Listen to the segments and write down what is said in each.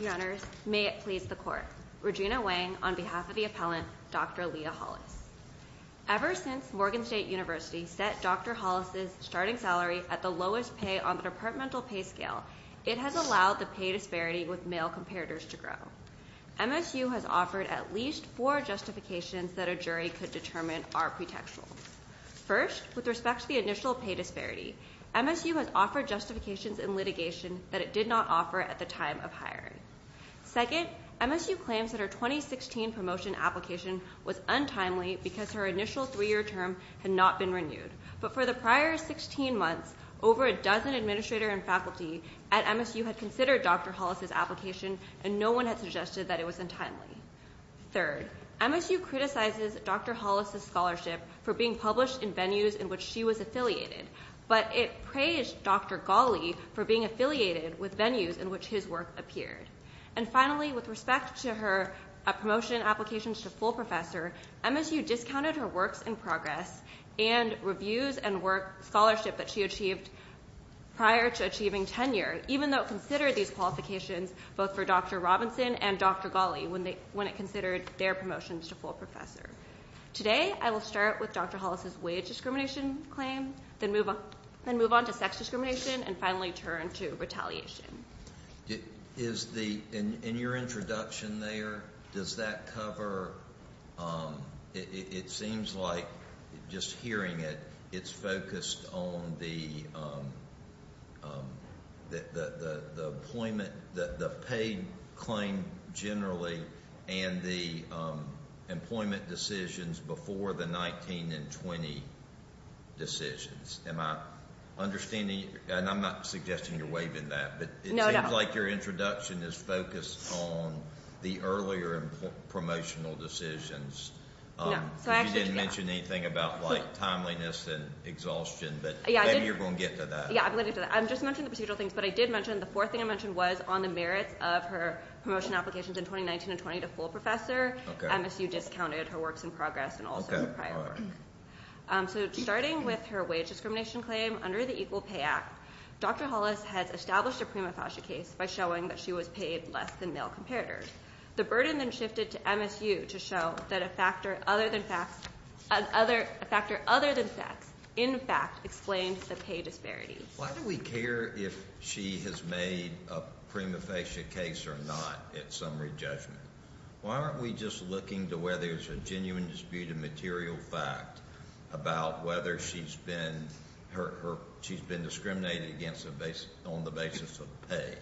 Your honors, may it please the court. Regina Wang on behalf of the appellant, Dr. Leah Hollis. Ever since Morgan State University set Dr. Hollis' starting salary at the lowest pay on the departmental pay scale, it has allowed the pay disparity with male comparators to grow. MSU has offered at least four justifications that a jury could determine are pretextual. First, with respect to the initial pay disparity, MSU has offered justifications in litigation that it did not offer at the time of hiring. Second, MSU claims that her 2016 promotion application was untimely because her initial three-year term had not been renewed. But for the prior 16 months, over a dozen administrators and faculty at MSU had considered Dr. Hollis' application, and no one had suggested that it was untimely. Third, MSU criticizes Dr. Hollis' scholarship for being published in venues in which she was affiliated, but it praised Dr. Gawley for being affiliated with venues in which his work appeared. And finally, with respect to her promotion applications to full professor, MSU discounted her works in progress and reviews and work scholarship that she achieved prior to achieving tenure, even though it considered these qualifications both for Dr. Robinson and Dr. Gawley when it considered their promotions to full professor. Today, I will start with Dr. Hollis' wage discrimination claim, then move on to sex discrimination, and finally turn to retaliation. Is the – in your introduction there, does that cover – it seems like, just hearing it, it's focused on the employment – the paid claim generally and the employment decisions before the 19 and 20 decisions. Am I understanding – and I'm not suggesting you're waving that, but it seems like your introduction is focused on the earlier promotional decisions. No, so I actually – You didn't mention anything about, like, timeliness and exhaustion, but maybe you're going to get to that. Yeah, I'm going to get to that. I just mentioned the procedural things, but I did mention – the fourth thing I mentioned was on the merits of her promotion applications in 2019 and 20 to full professor. Okay. MSU discounted her works in progress and also prior work. Okay, all right. So starting with her wage discrimination claim under the Equal Pay Act, Dr. Hollis has established a prima facie case by showing that she was paid less than male competitors. The burden then shifted to MSU to show that a factor other than sex, in fact, explains the pay disparities. Why do we care if she has made a prima facie case or not at summary judgment? Why aren't we just looking to whether there's a genuine dispute of material fact about whether she's been discriminated against on the basis of pay?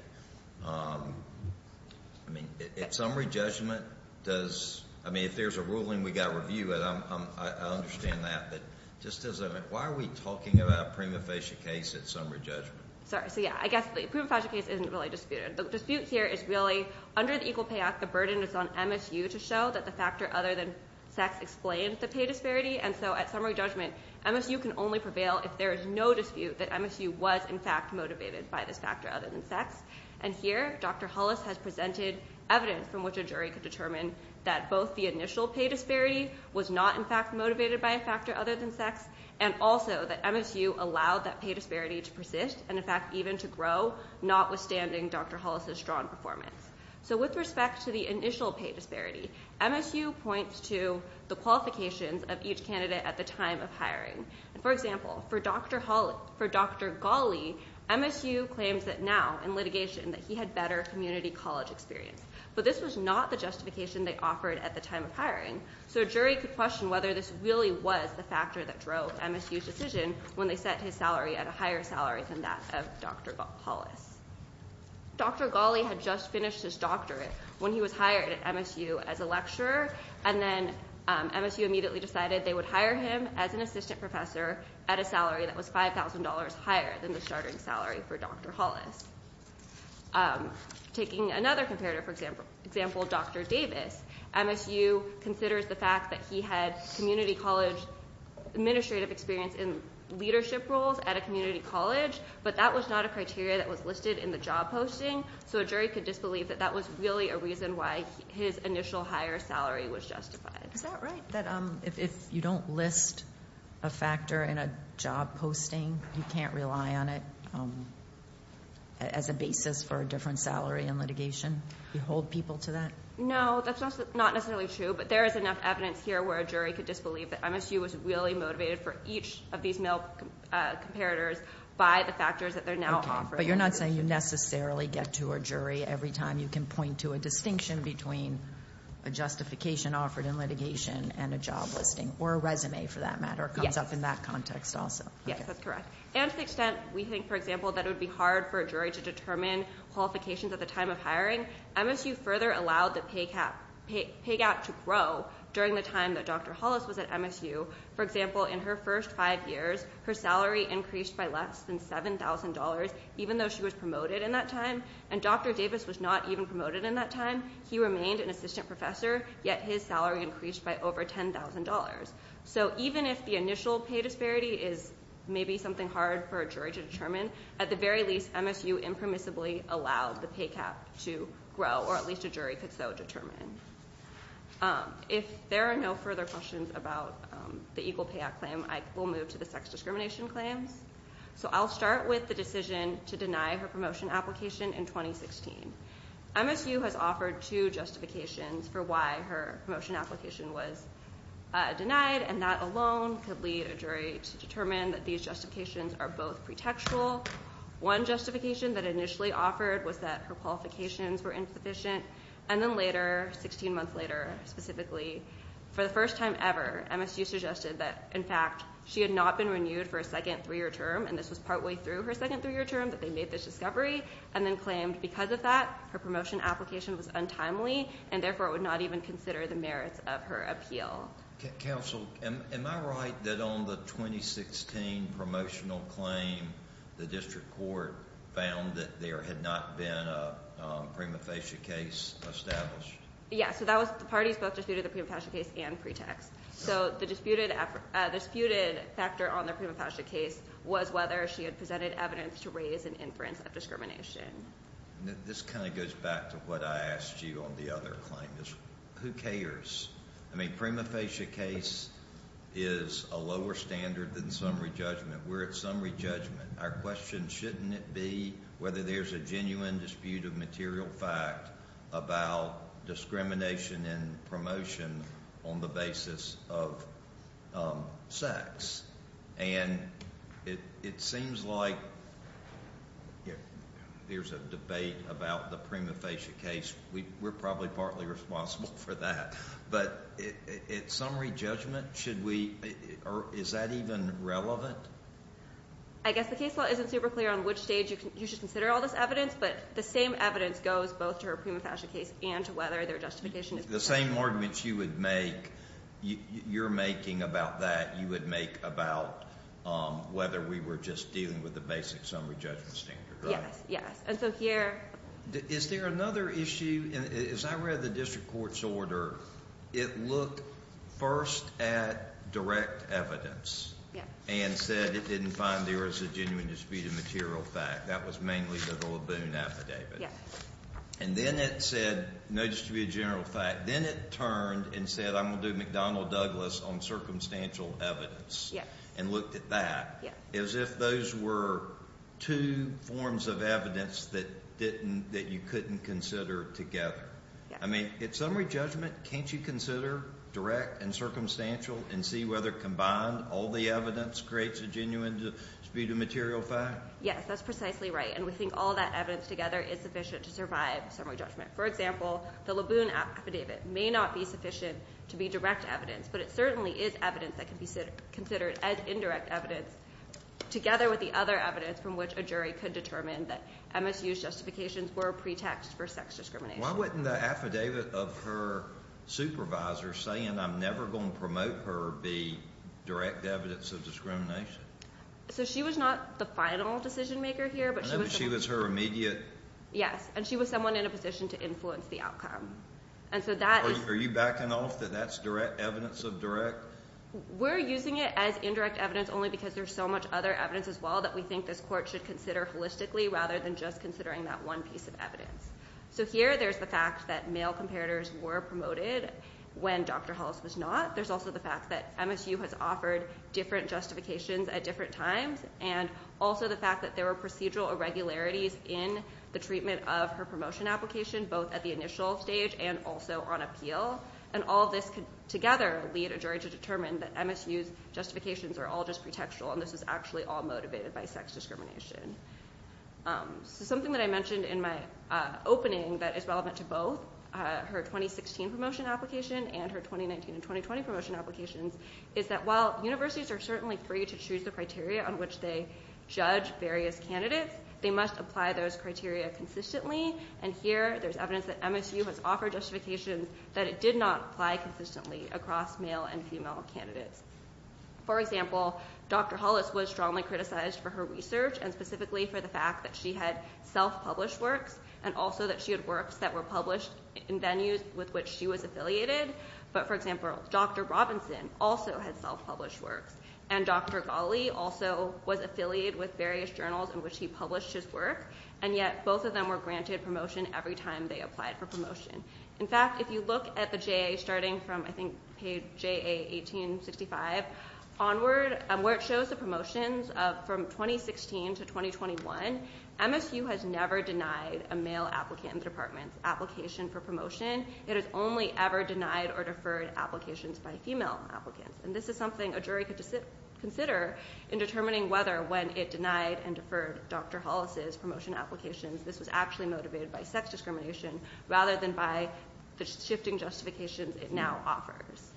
I mean, at summary judgment, does – I mean, if there's a ruling, we've got to review it. I understand that, but just as a – why are we talking about a prima facie case at summary judgment? Sorry, so, yeah, I guess the prima facie case isn't really disputed. The dispute here is really under the Equal Pay Act, the burden is on MSU to show that the factor other than sex explains the pay disparity. And so at summary judgment, MSU can only prevail if there is no dispute that MSU was, in fact, motivated by this factor other than sex. And here, Dr. Hollis has presented evidence from which a jury could determine that both the initial pay disparity was not, in fact, motivated by a factor other than sex and also that MSU allowed that pay disparity to persist and, in fact, even to grow, notwithstanding Dr. Hollis' strong performance. So with respect to the initial pay disparity, MSU points to the qualifications of each candidate at the time of hiring. And, for example, for Dr. Ghali, MSU claims that now, in litigation, that he had better community college experience. But this was not the justification they offered at the time of hiring. So a jury could question whether this really was the factor that drove MSU's decision when they set his salary at a higher salary than that of Dr. Hollis. Dr. Ghali had just finished his doctorate when he was hired at MSU as a lecturer, and then MSU immediately decided they would hire him as an assistant professor at a salary that was $5,000 higher than the starting salary for Dr. Hollis. Taking another comparative example, Dr. Davis. MSU considers the fact that he had community college administrative experience in leadership roles at a community college, but that was not a criteria that was listed in the job posting. So a jury could disbelieve that that was really a reason why his initial higher salary was justified. Is that right? That if you don't list a factor in a job posting, you can't rely on it as a basis for a different salary in litigation? You hold people to that? No, that's not necessarily true. But there is enough evidence here where a jury could disbelieve that MSU was really motivated for each of these male comparators by the factors that they're now offering. But you're not saying you necessarily get to a jury every time you can point to a distinction between a justification offered in litigation and a job listing, or a resume for that matter. Yes. It comes up in that context also. Yes, that's correct. And to the extent we think, for example, that it would be hard for a jury to determine qualifications at the time of hiring, MSU further allowed the pay gap to grow during the time that Dr. Hollis was at MSU. For example, in her first five years, her salary increased by less than $7,000, even though she was promoted in that time. And Dr. Davis was not even promoted in that time. He remained an assistant professor, yet his salary increased by over $10,000. So even if the initial pay disparity is maybe something hard for a jury to determine, at the very least, MSU impermissibly allowed the pay gap to grow, or at least a jury could so determine. If there are no further questions about the Equal Pay Act claim, I will move to the sex discrimination claims. So I'll start with the decision to deny her promotion application in 2016. MSU has offered two justifications for why her promotion application was denied, and that alone could lead a jury to determine that these justifications are both pretextual. One justification that initially offered was that her qualifications were insufficient, and then later, 16 months later specifically, for the first time ever, MSU suggested that, in fact, she had not been renewed for a second three-year term, and this was partway through her second three-year term that they made this discovery, and then claimed because of that, her promotion application was untimely, and therefore would not even consider the merits of her appeal. Counsel, am I right that on the 2016 promotional claim, the district court found that there had not been a prima facie case established? Yeah, so that was – the parties both disputed the prima facie case and pretext. So the disputed factor on the prima facie case was whether she had presented evidence to raise an inference of discrimination. This kind of goes back to what I asked you on the other claim is who cares? I mean, prima facie case is a lower standard than summary judgment. We're at summary judgment. Our question, shouldn't it be whether there's a genuine dispute of material fact about discrimination in promotion on the basis of sex? And it seems like there's a debate about the prima facie case. We're probably partly responsible for that. But at summary judgment, should we – is that even relevant? I guess the case law isn't super clear on which stage you should consider all this evidence, but the same evidence goes both to her prima facie case and to whether their justification is correct. The same arguments you would make – you're making about that, you would make about whether we were just dealing with the basic summary judgment standard, right? Yes, yes. And so here – Is there another issue? As I read the district court's order, it looked first at direct evidence and said it didn't find there was a genuine dispute of material fact. That was mainly the Laboon affidavit. Yes. And then it said – no, just to be a general fact – then it turned and said I'm going to do McDonnell-Douglas on circumstantial evidence. Yes. And looked at that. Yes. As if those were two forms of evidence that didn't – that you couldn't consider together. Yes. I mean, at summary judgment, can't you consider direct and circumstantial and see whether combined all the evidence creates a genuine dispute of material fact? Yes, that's precisely right. And we think all that evidence together is sufficient to survive summary judgment. For example, the Laboon affidavit may not be sufficient to be direct evidence, but it certainly is evidence that can be considered as indirect evidence together with the other evidence from which a jury could determine that MSU's justifications were a pretext for sex discrimination. Why wouldn't the affidavit of her supervisor saying I'm never going to promote her be direct evidence of discrimination? So she was not the final decision maker here, but she was – I know, but she was her immediate – Yes, and she was someone in a position to influence the outcome. And so that – Are you backing off that that's direct evidence of direct? We're using it as indirect evidence only because there's so much other evidence as well that we think this court should consider holistically rather than just considering that one piece of evidence. So here there's the fact that male comparators were promoted when Dr. Hollis was not. There's also the fact that MSU has offered different justifications at different times, and also the fact that there were procedural irregularities in the treatment of her promotion application, both at the initial stage and also on appeal. And all of this could together lead a jury to determine that MSU's justifications are all just pretextual, and this is actually all motivated by sex discrimination. So something that I mentioned in my opening that is relevant to both her 2016 promotion application and her 2019 and 2020 promotion applications is that while universities are certainly free to choose the criteria on which they judge various candidates, they must apply those criteria consistently, and here there's evidence that MSU has offered justifications that it did not apply consistently across male and female candidates. For example, Dr. Hollis was strongly criticized for her research and specifically for the fact that she had self-published works and also that she had works that were published in venues with which she was affiliated. But, for example, Dr. Robinson also had self-published works, and Dr. Ghali also was affiliated with various journals in which he published his work, and yet both of them were granted promotion every time they applied for promotion. In fact, if you look at the JA starting from, I think, page JA 1865 onward, where it shows the promotions from 2016 to 2021, MSU has never denied a male applicant in the department's application for promotion. It has only ever denied or deferred applications by female applicants, and this is something a jury could consider in determining whether, when it denied and deferred Dr. Hollis' promotion applications, this was actually motivated by sex discrimination rather than by the shifting justifications it now offers.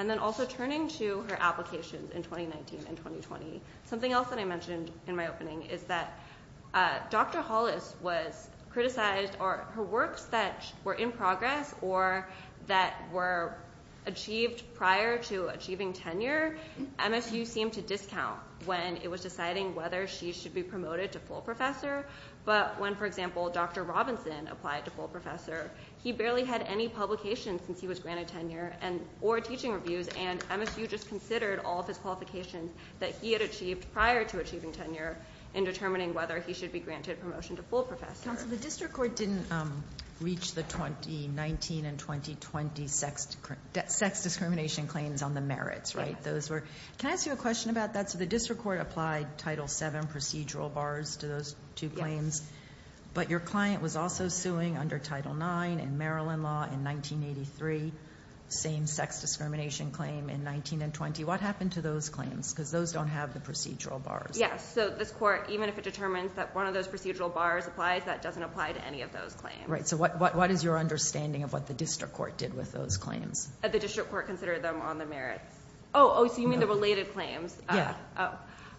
And then also turning to her applications in 2019 and 2020, something else that I mentioned in my opening is that Dr. Hollis was criticized or her works that were in progress or that were achieved prior to achieving tenure, MSU seemed to discount when it was deciding whether she should be promoted to full professor. But when, for example, Dr. Robinson applied to full professor, he barely had any publications since he was granted tenure or teaching reviews, and MSU just considered all of his qualifications that he had achieved prior to achieving tenure in determining whether he should be granted promotion to full professor. Counsel, the district court didn't reach the 2019 and 2020 sex discrimination claims on the merits, right? Can I ask you a question about that? So the district court applied Title VII procedural bars to those two claims, but your client was also suing under Title IX in Maryland law in 1983, same sex discrimination claim in 19 and 20. What happened to those claims? Because those don't have the procedural bars. Yes. So this court, even if it determines that one of those procedural bars applies, that doesn't apply to any of those claims. Right. So what is your understanding of what the district court did with those claims? The district court considered them on the merits. Oh, so you mean the related claims? Yeah.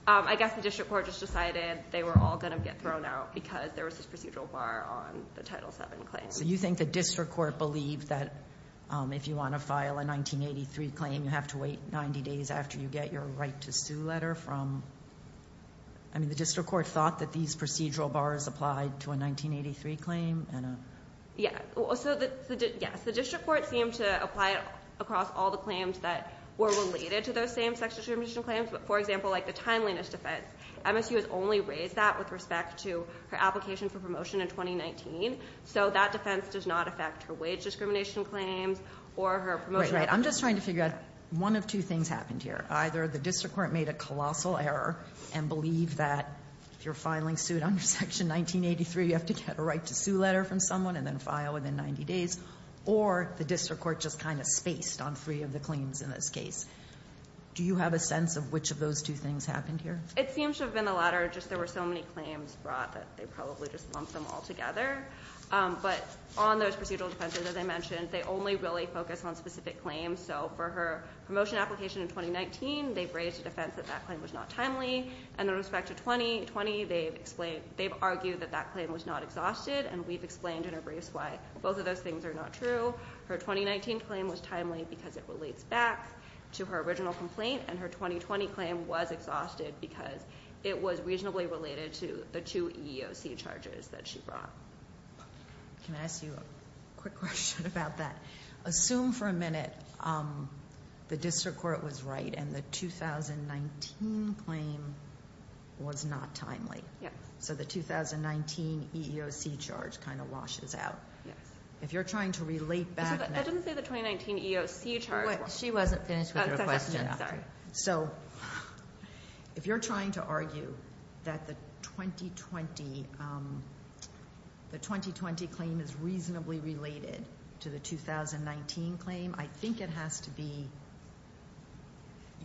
I guess the district court just decided they were all going to get thrown out because there was this procedural bar on the Title VII claims. So you think the district court believed that if you want to file a 1983 claim, you have to wait 90 days after you get your right to sue letter from... I mean, the district court thought that these procedural bars applied to a 1983 claim? Yeah. So the district court seemed to apply it across all the claims that were related to those same sex discrimination claims. But for example, like the timeliness defense, MSU has only raised that with respect to her application for promotion in 2019. So that defense does not affect her wage discrimination claims or her promotion... Right. I'm just trying to figure out one of two things happened here. Either the district court made a colossal error and believed that if you're filing suit under Section 1983, you have to get a right to sue letter from someone and then file within 90 days, or the district court just kind of spaced on three of the claims in this case. Do you have a sense of which of those two things happened here? It seems to have been the latter. Just there were so many claims brought that they probably just lumped them all together. But on those procedural defenses, as I mentioned, they only really focus on specific claims. So for her promotion application in 2019, they've raised a defense that that claim was not timely. And with respect to 2020, they've argued that that claim was not exhausted, and we've explained in our briefs why both of those things are not true. Her 2019 claim was timely because it relates back to her original complaint, and her 2020 claim was exhausted because it was reasonably related to the two EEOC charges that she brought. Can I ask you a quick question about that? Assume for a minute the district court was right and the 2019 claim was not timely. Yes. So the 2019 EEOC charge kind of washes out. Yes. If you're trying to relate back now- That doesn't say the 2019 EEOC charge- She wasn't finished with her question. So if you're trying to argue that the 2020 claim is reasonably related to the 2019 claim, I think it has to be-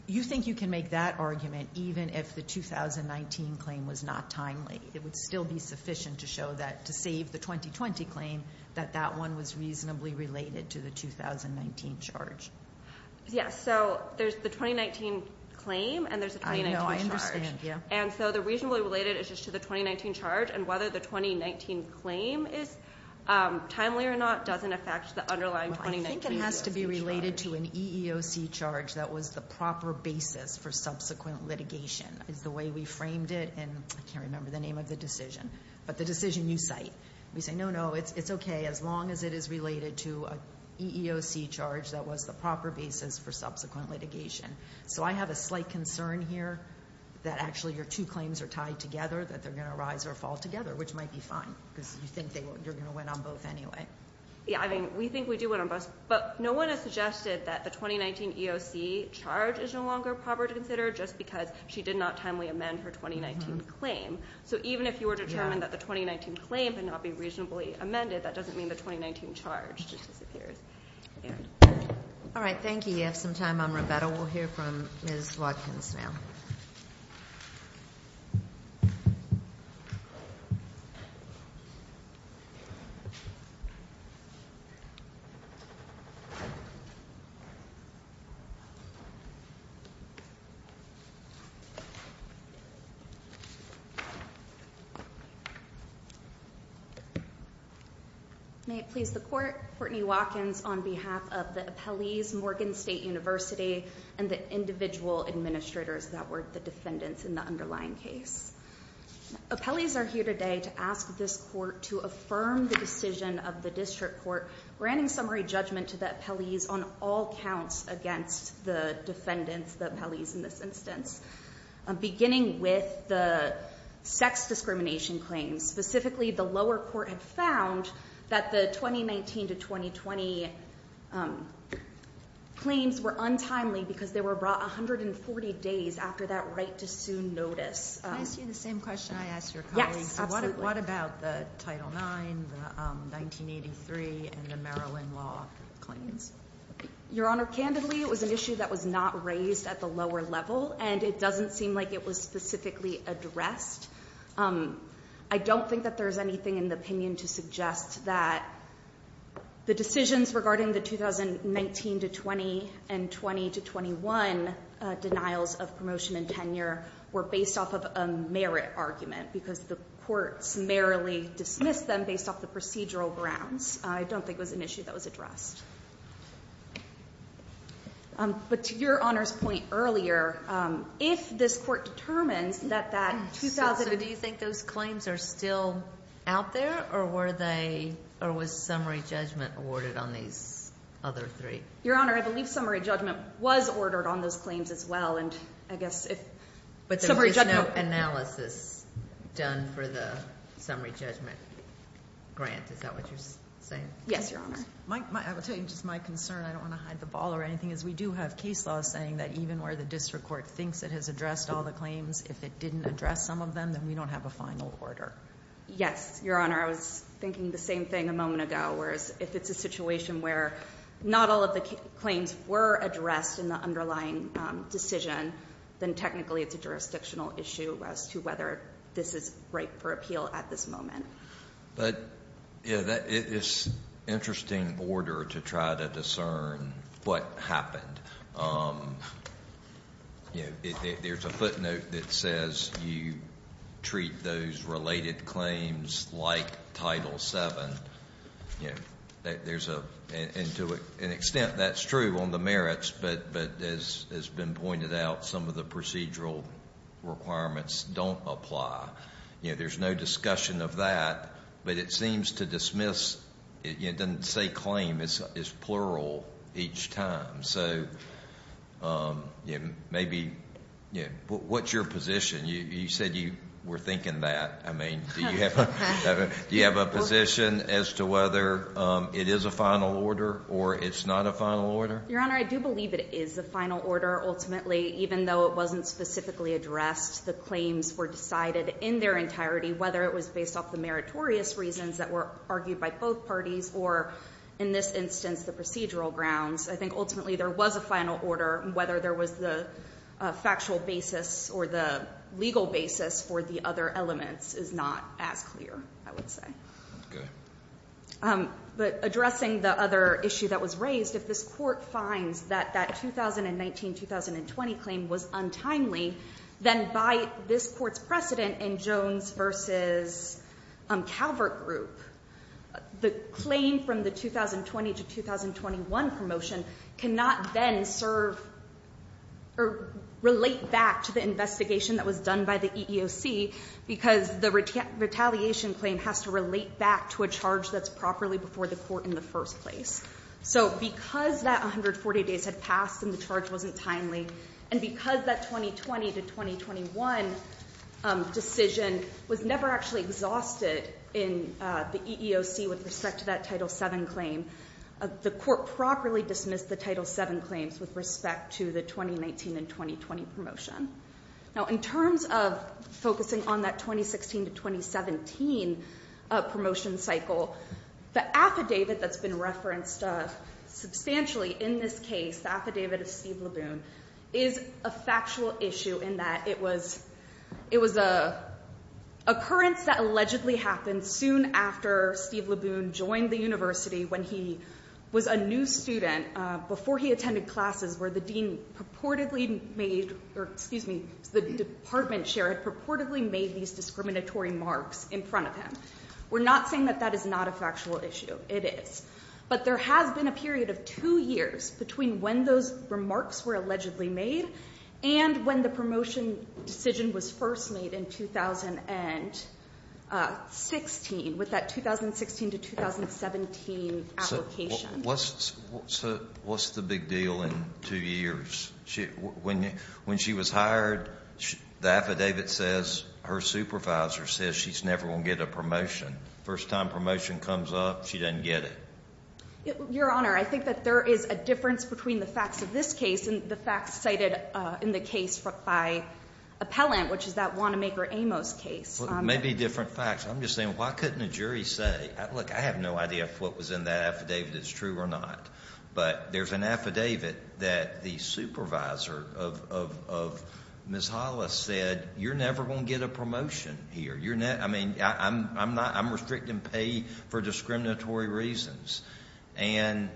you think you can make that argument even if the 2019 claim was not timely. It would still be sufficient to show that to save the 2020 claim, that that one was reasonably related to the 2019 charge. Yes. So there's the 2019 claim and there's a 2019 charge. I know. I understand. Yeah. And so the reasonably related is just to the 2019 charge, and whether the 2019 claim is timely or not doesn't affect the underlying 2019 EEOC charge. I think it has to be related to an EEOC charge that was the proper basis for subsequent litigation. It's the way we framed it, and I can't remember the name of the decision, but the decision you cite. We say, no, no, it's okay as long as it is related to an EEOC charge that was the proper basis for subsequent litigation. So I have a slight concern here that actually your two claims are tied together, that they're going to rise or fall together, which might be fine, because you think you're going to win on both anyway. Yeah. I mean, we think we do win on both, but no one has suggested that the 2019 EEOC charge is no longer proper to consider just because she did not timely amend her 2019 claim. So even if you were determined that the 2019 claim could not be reasonably amended, that doesn't mean the 2019 charge just disappears. All right. Thank you. You have some time. We'll hear from Ms. Watkins now. May it please the court. Courtney Watkins on behalf of the appellees, Morgan State University, and the individual administrators that were the defendants in the underlying case. Appellees are here today to ask this court to affirm the decision of the district court granting summary judgment to the appellees on all counts against the defendants, the appellees in this instance. Beginning with the sex discrimination claims, specifically the lower court had found that the 2019 to 2020 claims were untimely because they were brought 140 days after that right to sue notice. Can I ask you the same question I asked your colleagues? Yes, absolutely. What about the Title IX, the 1983, and the Maryland law claims? Your Honor, candidly, it was an issue that was not raised at the lower level, and it doesn't seem like it was specifically addressed. I don't think that there's anything in the opinion to suggest that the decisions regarding the 2019 to 2020 to 2021 denials of promotion and tenure were based off of a merit argument because the courts merrily dismissed them based off the procedural grounds. I don't think it was an issue that was addressed. But to your Honor's point earlier, if this court determines that that 2000... So do you think those claims are still out there, or were they, or was summary judgment awarded on these other three? Your Honor, I believe summary judgment was ordered on those claims as well, and I guess if... But there was no analysis done for the summary judgment grant. Is that what you're saying? Yes, Your Honor. I will tell you, just my concern, I don't want to hide the ball or anything, is we do have case law saying that even where the district court thinks it has addressed all the claims, if it didn't address some of them, then we don't have a final order. Yes, Your Honor. I was thinking the same thing a moment ago, whereas if it's a situation where not all of the claims were addressed in the underlying decision, then technically it's a jurisdictional issue as to whether this is right for appeal at this moment. But it's interesting order to try to discern what happened. There's a footnote that says you treat those related claims like Title VII. And to an extent that's true on the merits, but as has been pointed out, some of the procedural requirements don't apply. There's no discussion of that, but it seems to dismiss... It doesn't say claim. It's plural each time. So maybe... What's your position? You said you were thinking that. I mean, do you have a position as to whether it is a final order or it's not a final order? Your Honor, I do believe it is a final order. Ultimately, even though it wasn't specifically addressed, the claims were decided in their entirety, whether it was based off the meritorious reasons that were argued by both parties or, in this instance, the procedural grounds. I think ultimately there was a final order. Whether there was the factual basis or the legal basis for the other elements is not as clear, I would say. Okay. But addressing the other issue that was raised, if this Court finds that that 2019-2020 claim was untimely, then by this Court's precedent in Jones v. Calvert group, the claim from the 2020-2021 promotion cannot then serve or relate back to the investigation that was done by the EEOC because the retaliation claim has to relate back to a charge that's properly before the Court in the first place. So because that 140 days had passed and the charge wasn't timely, and because that 2020-2021 decision was never actually exhausted in the EEOC with respect to that Title VII claim, the Court properly dismissed the Title VII claims with respect to the 2019-2020 promotion. Now, in terms of focusing on that 2016-2017 promotion cycle, the affidavit that's been referenced substantially in this case, the affidavit of Steve Laboon, is a factual issue in that it was an occurrence that allegedly happened soon after Steve Laboon joined the university when he was a new student, before he attended classes where the dean purportedly made, or excuse me, the department chair had purportedly made these discriminatory marks in front of him. We're not saying that that is not a factual issue. It is. But there has been a period of two years between when those remarks were allegedly made and when the promotion decision was first made in 2016 with that 2016-2017 application. What's the big deal in two years? When she was hired, the affidavit says her supervisor says she's never going to get a promotion. First time promotion comes up, she doesn't get it. Your Honor, I think that there is a difference between the facts of this case and the facts cited in the case by appellant, which is that Wanamaker-Amos case. Maybe different facts. I'm just saying, why couldn't a jury say? Look, I have no idea if what was in that affidavit is true or not. But there's an affidavit that the supervisor of Ms. Hollis said, you're never going to get a promotion here. I mean, I'm restricting pay for discriminatory reasons. And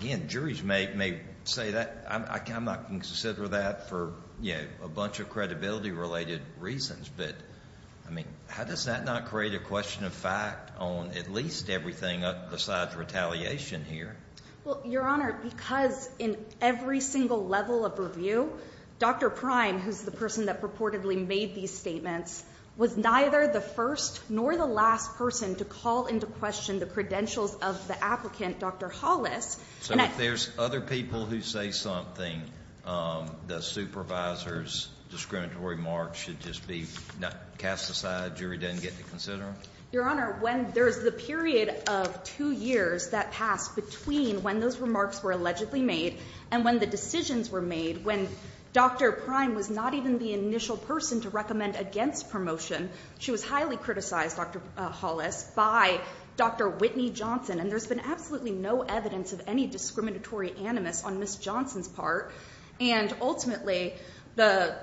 again, juries may say that. I'm not going to consider that for a bunch of credibility-related reasons. But, I mean, how does that not create a question of fact on at least everything besides retaliation here? Well, Your Honor, because in every single level of review, Dr. Prime, who's the person that purportedly made these statements, was neither the first nor the last person to call into question the credentials of the applicant, Dr. Hollis. So if there's other people who say something, the supervisor's discriminatory remarks should just be cast aside, jury doesn't get to consider them? Your Honor, when there's the period of two years that passed between when those remarks were allegedly made and when the decisions were made, when Dr. Prime was not even the initial person to recommend against promotion, she was highly criticized, Dr. Hollis, by Dr. Whitney Johnson. And there's been absolutely no evidence of any discriminatory animus on Ms. Johnson's part. And ultimately, the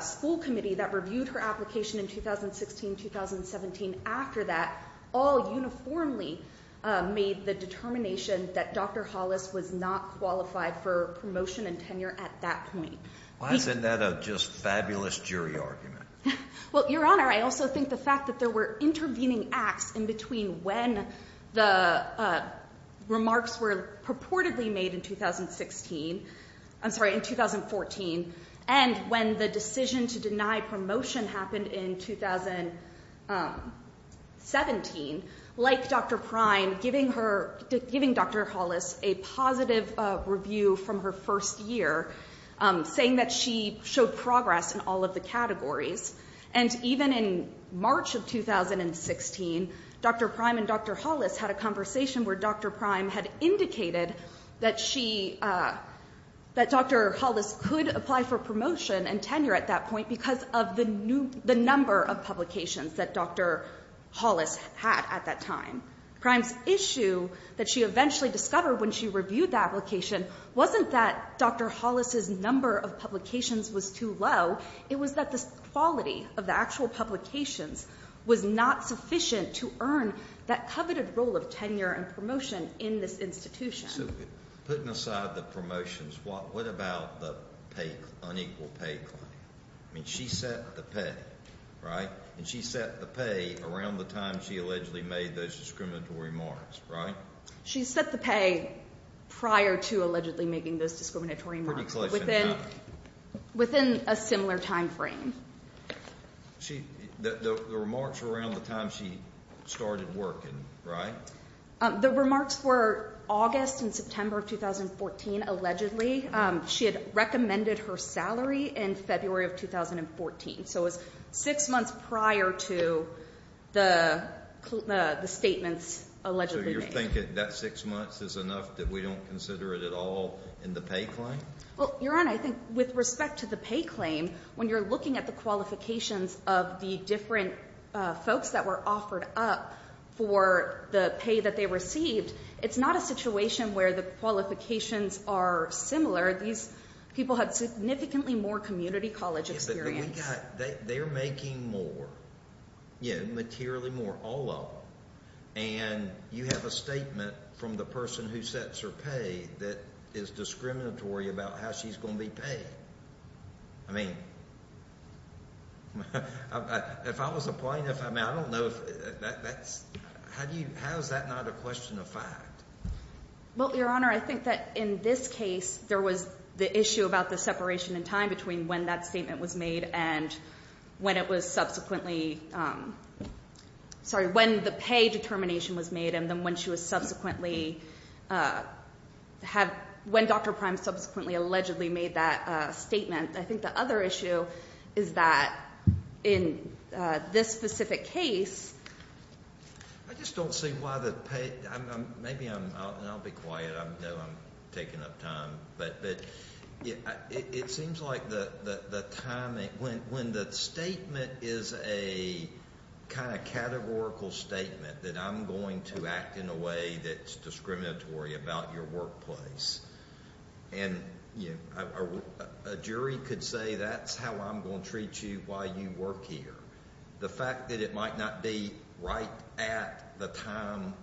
school committee that reviewed her application in 2016-2017 after that all uniformly made the determination that Dr. Hollis was not qualified for promotion and tenure at that point. Why isn't that a just fabulous jury argument? Well, Your Honor, I also think the fact that there were intervening acts in between when the remarks were purportedly made in 2016, I'm sorry, in 2014, and when the decision to deny promotion happened in 2017, like Dr. Prime giving Dr. Hollis a positive review from her first year, saying that she showed progress in all of the categories. And even in March of 2016, Dr. Prime and Dr. Hollis had a conversation where Dr. Prime had indicated that Dr. Hollis could apply for promotion and tenure at that point because of the number of publications that Dr. Hollis had at that time. Prime's issue that she eventually discovered when she reviewed the application wasn't that Dr. Hollis' number of publications was too low. It was that the quality of the actual publications was not sufficient to earn that coveted role of tenure and promotion in this institution. So putting aside the promotions, what about the unequal pay claim? I mean, she set the pay, right? And she set the pay around the time she allegedly made those discriminatory remarks, right? She set the pay prior to allegedly making those discriminatory remarks within a similar time frame. The remarks were around the time she started working, right? The remarks were August and September of 2014, allegedly. She had recommended her salary in February of 2014. So it was six months prior to the statements allegedly made. So you're thinking that six months is enough that we don't consider it at all in the pay claim? Well, Your Honor, I think with respect to the pay claim, when you're looking at the qualifications of the different folks that were offered up for the pay that they received, it's not a situation where the qualifications are similar. These people had significantly more community college experience. They're making more, materially more, all of them. And you have a statement from the person who sets her pay that is discriminatory about how she's going to be paid. I mean, if I was a plaintiff, I mean, I don't know if that's – how is that not a question of fact? Well, Your Honor, I think that in this case there was the issue about the separation in time between when that statement was made and when it was subsequently – sorry, when the pay determination was made and then when she was subsequently – when Dr. Prime subsequently allegedly made that statement. I think the other issue is that in this specific case – I just don't see why the – maybe I'm – and I'll be quiet. I know I'm taking up time. But it seems like the time – when the statement is a kind of categorical statement that I'm going to act in a way that's discriminatory about your workplace and a jury could say that's how I'm going to treat you while you work here, the fact that it might not be right at the time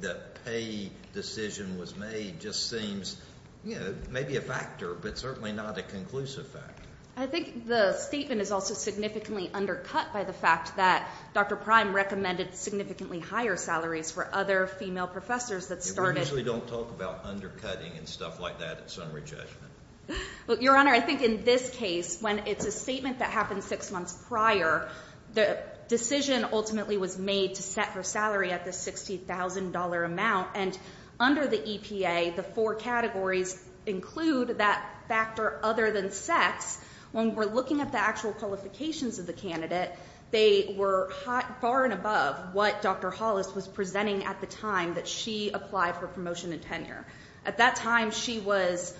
the pay decision was made just seems, you know, maybe a factor, but certainly not a conclusive factor. I think the statement is also significantly undercut by the fact that Dr. Prime recommended significantly higher salaries for other female professors that started – We usually don't talk about undercutting and stuff like that at summary judgment. Your Honor, I think in this case when it's a statement that happened six months prior, the decision ultimately was made to set her salary at the $60,000 amount and under the EPA the four categories include that factor other than sex. When we're looking at the actual qualifications of the candidate, they were far and above what Dr. Hollis was presenting at the time that she applied for promotion and tenure. At that time she was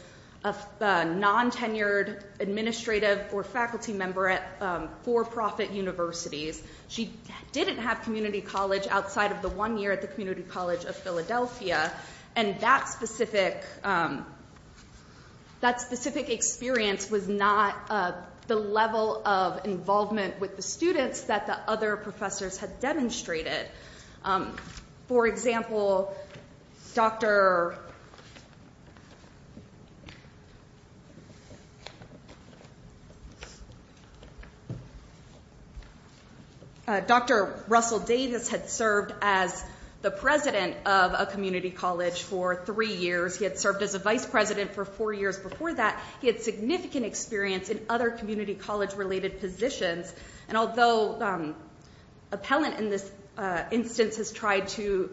a non-tenured administrative or faculty member at for-profit universities. She didn't have community college outside of the one year at the Community College of Philadelphia, and that specific experience was not the level of involvement with the students that the other professors had demonstrated. For example, Dr. Russell Davis had served as the president of a community college for three years. He had served as a vice president for four years before that. He had significant experience in other community college-related positions, and although appellant in this instance has tried to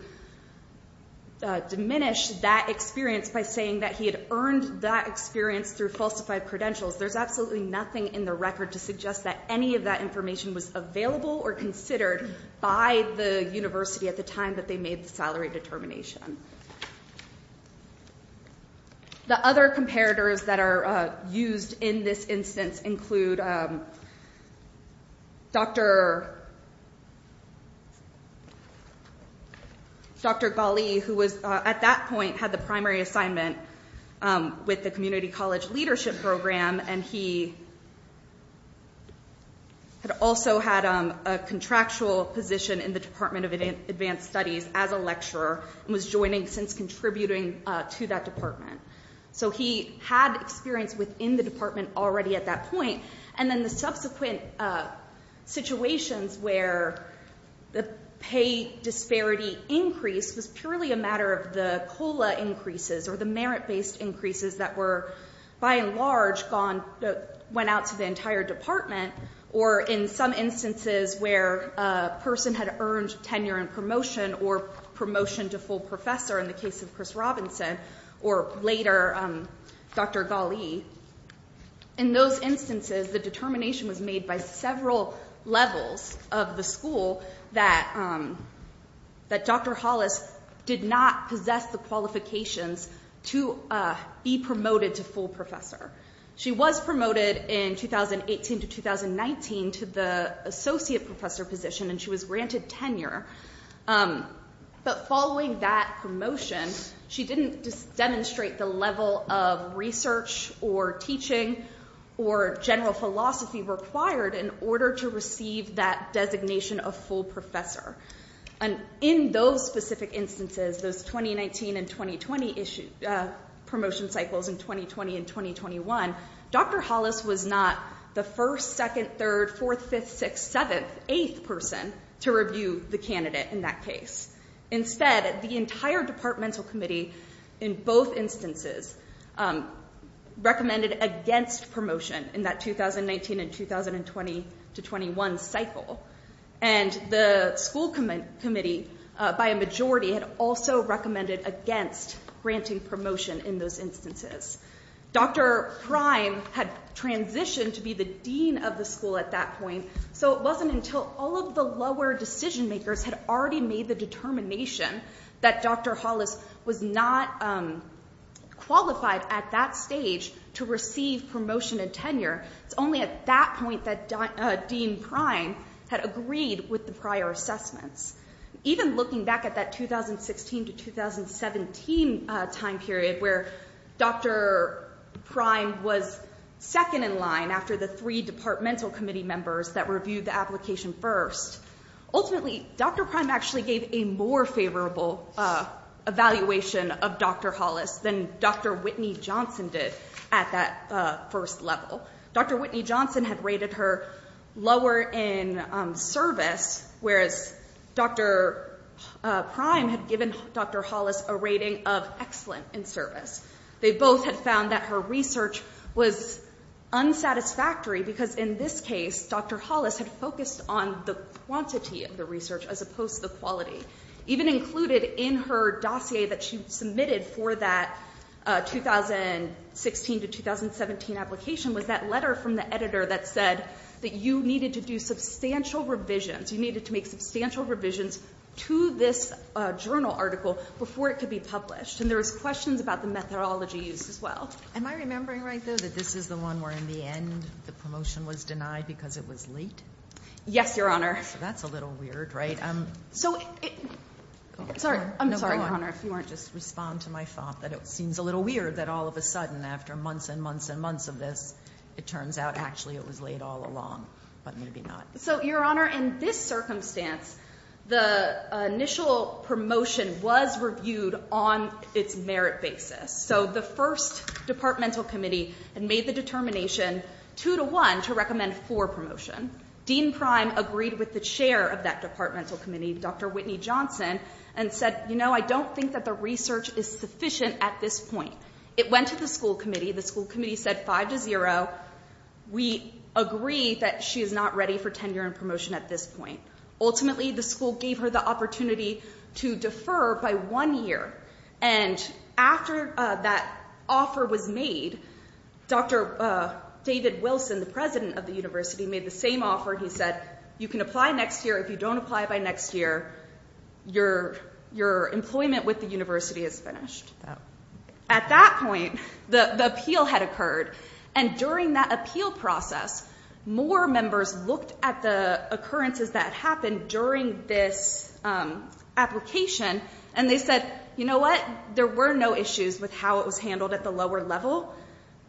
diminish that experience by saying that he had earned that experience through falsified credentials, there's absolutely nothing in the record to suggest that any of that information was available or considered by the university at the time that they made the salary determination. The other comparators that are used in this instance include Dr. Ghali, who at that point had the primary assignment with the Community College Leadership Program, and he also had a contractual position in the Department of Advanced Studies as a lecturer and was joining since contributing to that department. So he had experience within the department already at that point, and then the subsequent situations where the pay disparity increase was purely a matter of the COLA increases or the merit-based increases that were by and large went out to the entire department, or in some instances where a person had earned tenure in promotion or promotion to full professor, in the case of Chris Robinson, or later Dr. Ghali, in those instances the determination was made by several levels of the school that Dr. Hollis did not possess the qualifications to be promoted to full professor. She was promoted in 2018 to 2019 to the associate professor position, and she was granted tenure, but following that promotion, she didn't demonstrate the level of research or teaching or general philosophy required in order to receive that designation of full professor. In those specific instances, those 2019 and 2020 promotion cycles in 2020 and 2021, Dr. Hollis was not the first, second, third, fourth, fifth, sixth, seventh, eighth person to review the candidate in that case. Instead, the entire departmental committee in both instances recommended against promotion in that 2019 and 2020 to 2021 cycle, and the school committee, by a majority, had also recommended against granting promotion in those instances. Dr. Prime had transitioned to be the dean of the school at that point, so it wasn't until all of the lower decision-makers had already made the determination that Dr. Hollis was not qualified at that stage to receive promotion and tenure. It's only at that point that Dean Prime had agreed with the prior assessments. Even looking back at that 2016 to 2017 time period where Dr. Prime was second in line after the three departmental committee members that reviewed the application first, ultimately, Dr. Prime actually gave a more favorable evaluation of Dr. Hollis than Dr. Whitney Johnson did at that first level. Dr. Whitney Johnson had rated her lower in service, whereas Dr. Prime had given Dr. Hollis a rating of excellent in service. They both had found that her research was unsatisfactory, because in this case, Dr. Hollis had focused on the quantity of the research as opposed to the quality. Even included in her dossier that she submitted for that 2016 to 2017 application was that letter from the editor that said that you needed to do substantial revisions, you needed to make substantial revisions to this journal article before it could be published, and there was questions about the methodology used as well. Am I remembering right, though, that this is the one where in the end the promotion was denied because it was late? Yes, Your Honor. That's a little weird, right? So, sorry. I'm sorry, Your Honor, if you want to just respond to my thought that it seems a little weird that all of a sudden after months and months and months of this, it turns out actually it was late all along, but maybe not. So, Your Honor, in this circumstance, the initial promotion was reviewed on its merit basis. So the first departmental committee had made the determination 2 to 1 to recommend 4 promotion. Dean Prime agreed with the chair of that departmental committee, Dr. Whitney Johnson, and said, you know, I don't think that the research is sufficient at this point. It went to the school committee. The school committee said 5 to 0. We agree that she is not ready for tenure and promotion at this point. Ultimately, the school gave her the opportunity to defer by one year, and after that offer was made, Dr. David Wilson, the president of the university, made the same offer. He said, you can apply next year. If you don't apply by next year, your employment with the university is finished. At that point, the appeal had occurred, and during that appeal process, more members looked at the occurrences that happened during this application, and they said, you know what, there were no issues with how it was handled at the lower level,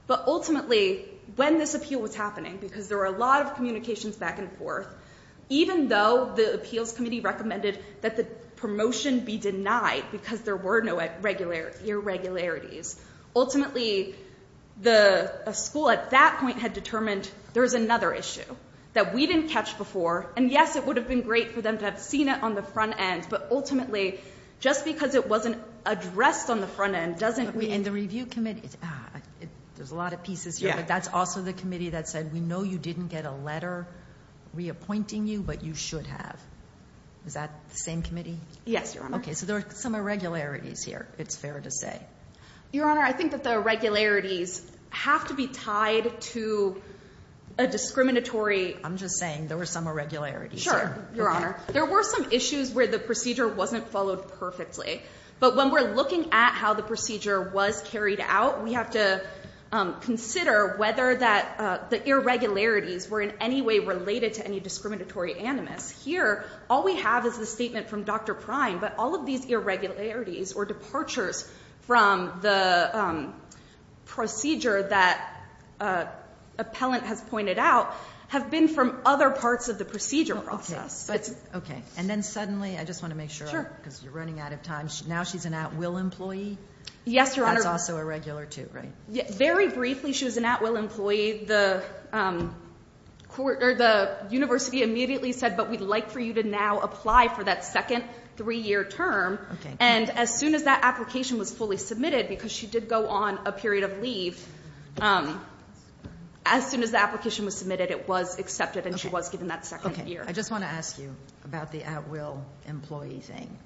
but ultimately when this appeal was happening, because there were a lot of communications back and forth, even though the appeals committee recommended that the promotion be denied because there were no irregularities, ultimately the school at that point had determined there was another issue that we didn't catch before, and yes, it would have been great for them to have seen it on the front end, but ultimately, just because it wasn't addressed on the front end doesn't mean... And the review committee, there's a lot of pieces here, but that's also the committee that said, we know you didn't get a letter reappointing you, but you should have. Is that the same committee? Yes, Your Honor. Okay, so there are some irregularities here, it's fair to say. Your Honor, I think that the irregularities have to be tied to a discriminatory... I'm just saying there were some irregularities. Sure, Your Honor. There were some issues where the procedure wasn't followed perfectly, but when we're looking at how the procedure was carried out, we have to consider whether the irregularities were in any way related to any discriminatory animus. Here, all we have is the statement from Dr. Prime, but all of these irregularities or departures from the procedure that appellant has pointed out have been from other parts of the procedure process. Okay, and then suddenly, I just want to make sure, because you're running out of time, now she's an at-will employee? Yes, Your Honor. That's also irregular too, right? Very briefly, she was an at-will employee. The university immediately said, but we'd like for you to now apply for that second three-year term, and as soon as that application was fully submitted, because she did go on a period of leave, as soon as the application was submitted, it was accepted and she was given that second year. Okay, I just want to ask you about the at-will employee thing.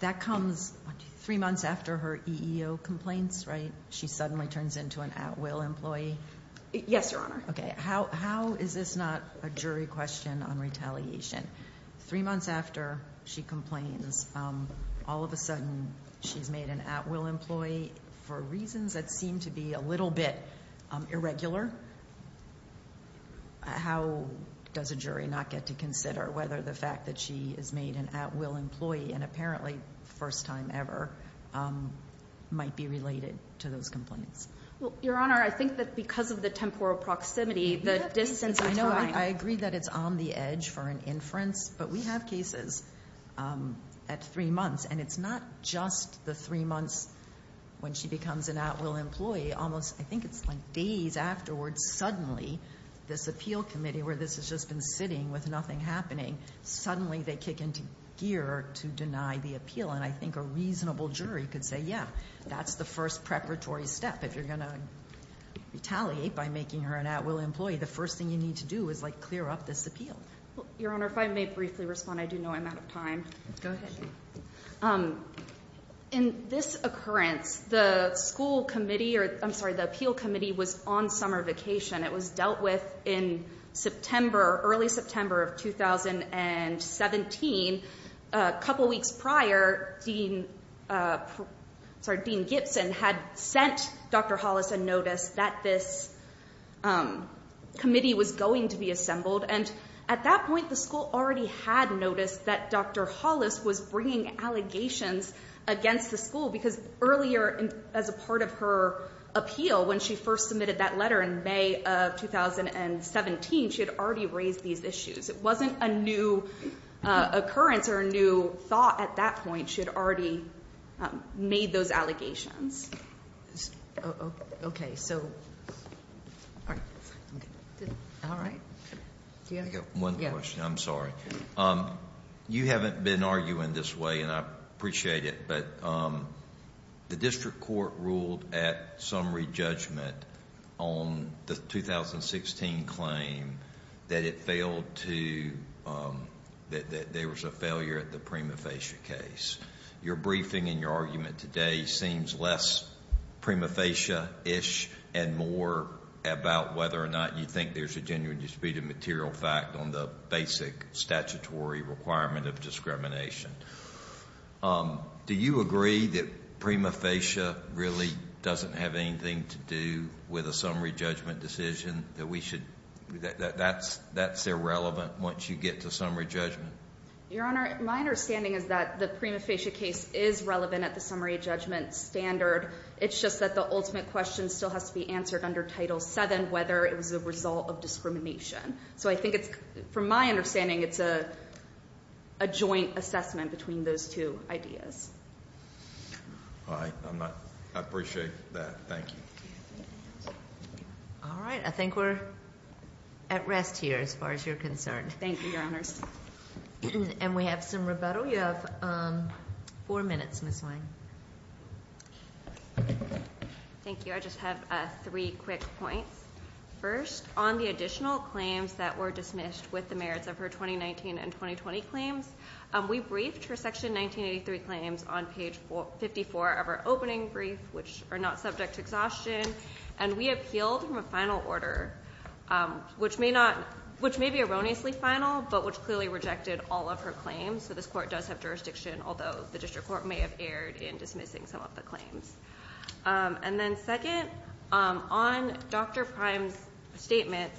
That comes three months after her EEO complaints, right? She suddenly turns into an at-will employee? Yes, Your Honor. Okay. How is this not a jury question on retaliation? Three months after she complains, all of a sudden she's made an at-will employee for reasons that seem to be a little bit irregular. How does a jury not get to consider whether the fact that she is made an at-will employee and apparently first time ever might be related to those complaints? Your Honor, I think that because of the temporal proximity, the distance between I agree that it's on the edge for an inference, but we have cases at three months, and it's not just the three months when she becomes an at-will employee. I think it's like days afterwards, suddenly, this appeal committee, where this has just been sitting with nothing happening, suddenly they kick into gear to deny the appeal. And I think a reasonable jury could say, yeah, that's the first preparatory step. If you're going to retaliate by making her an at-will employee, the first thing you need to do is, like, clear up this appeal. Your Honor, if I may briefly respond. I do know I'm out of time. Go ahead. In this occurrence, the appeal committee was on summer vacation. It was dealt with in September, early September of 2017. A couple weeks prior, Dean Gibson had sent Dr. Hollis a notice that this committee was going to be assembled. And at that point, the school already had noticed that Dr. Hollis was bringing allegations against the school because earlier as a part of her appeal, when she first submitted that letter in May of 2017, she had already raised these issues. It wasn't a new occurrence or a new thought at that point. She had already made those allegations. Okay. All right. One question. I'm sorry. You haven't been arguing this way, and I appreciate it, but the district court ruled at summary judgment on the 2016 claim that it failed to... that there was a failure at the prima facie case. Your briefing and your argument today seems less prima facie-ish and more about whether or not you think there's a genuine disputed material fact on the basic statutory requirement of discrimination. Do you agree that prima facie really doesn't have anything to do with a summary judgment decision that we should... that that's irrelevant once you get to summary judgment? Your Honor, my understanding is that the prima facie case is relevant at the summary judgment standard. It's just that the ultimate question still has to be answered under Title VII, whether it was a result of discrimination. So I think it's... from my understanding, it's a joint assessment between those two ideas. All right. I'm not... I appreciate that. Thank you. All right. I think we're at rest here as far as you're concerned. Thank you, Your Honors. And we have some rebuttal. You have four minutes, Ms. Wang. Thank you. I just have three quick points. First, on the additional claims that were dismissed with the merits of her 2019 and 2020 claims, we briefed her Section 1983 claims on page 54 of her opening brief, which are not subject to exhaustion, and we appealed from a final order, which may be erroneously final, but which clearly rejected all of her claims. So this court does have jurisdiction, although the district court may have erred in dismissing some of the claims. And then second, on Dr. Prime's statement,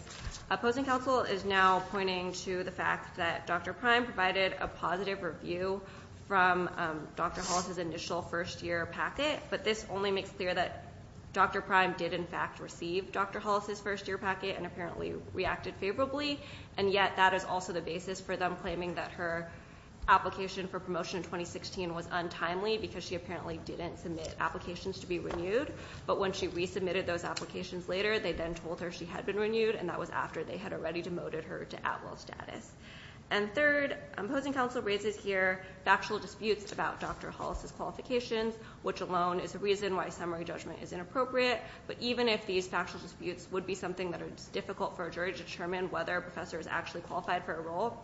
opposing counsel is now pointing to the fact that Dr. Prime provided a positive review from Dr. Hollis's initial first-year packet, but this only makes clear that Dr. Prime did, in fact, receive Dr. Hollis's first-year packet and apparently reacted favorably, and yet that is also the basis for them claiming that her application for promotion in 2016 was untimely because she apparently didn't submit applications to be renewed, but when she resubmitted those applications later, they then told her she had been renewed, and that was after they had already demoted her to at-will status. And third, opposing counsel raises here factual disputes about Dr. Hollis's qualifications, which alone is a reason why summary judgment is inappropriate, but even if these factual disputes would be something that is difficult for a jury to determine whether a professor is actually qualified for a role,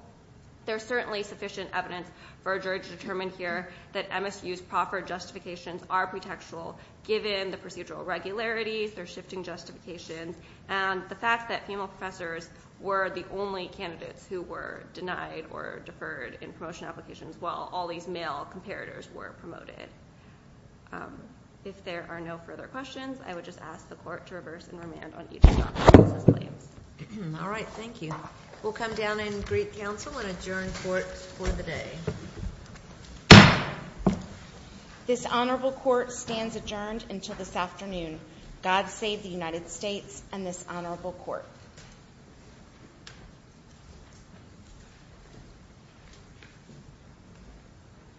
there is certainly sufficient evidence for a jury to determine here that MSU's proffered justifications are pretextual given the procedural regularities, their shifting justifications, and the fact that female professors were the only candidates who were denied or deferred in promotion applications while all these male comparators were promoted. If there are no further questions, I would just ask the court to reverse and remand on each of Dr. Hollis's claims. All right, thank you. We'll come down and greet counsel and adjourn court for the day. This honorable court stands adjourned until this afternoon. God save the United States and this honorable court.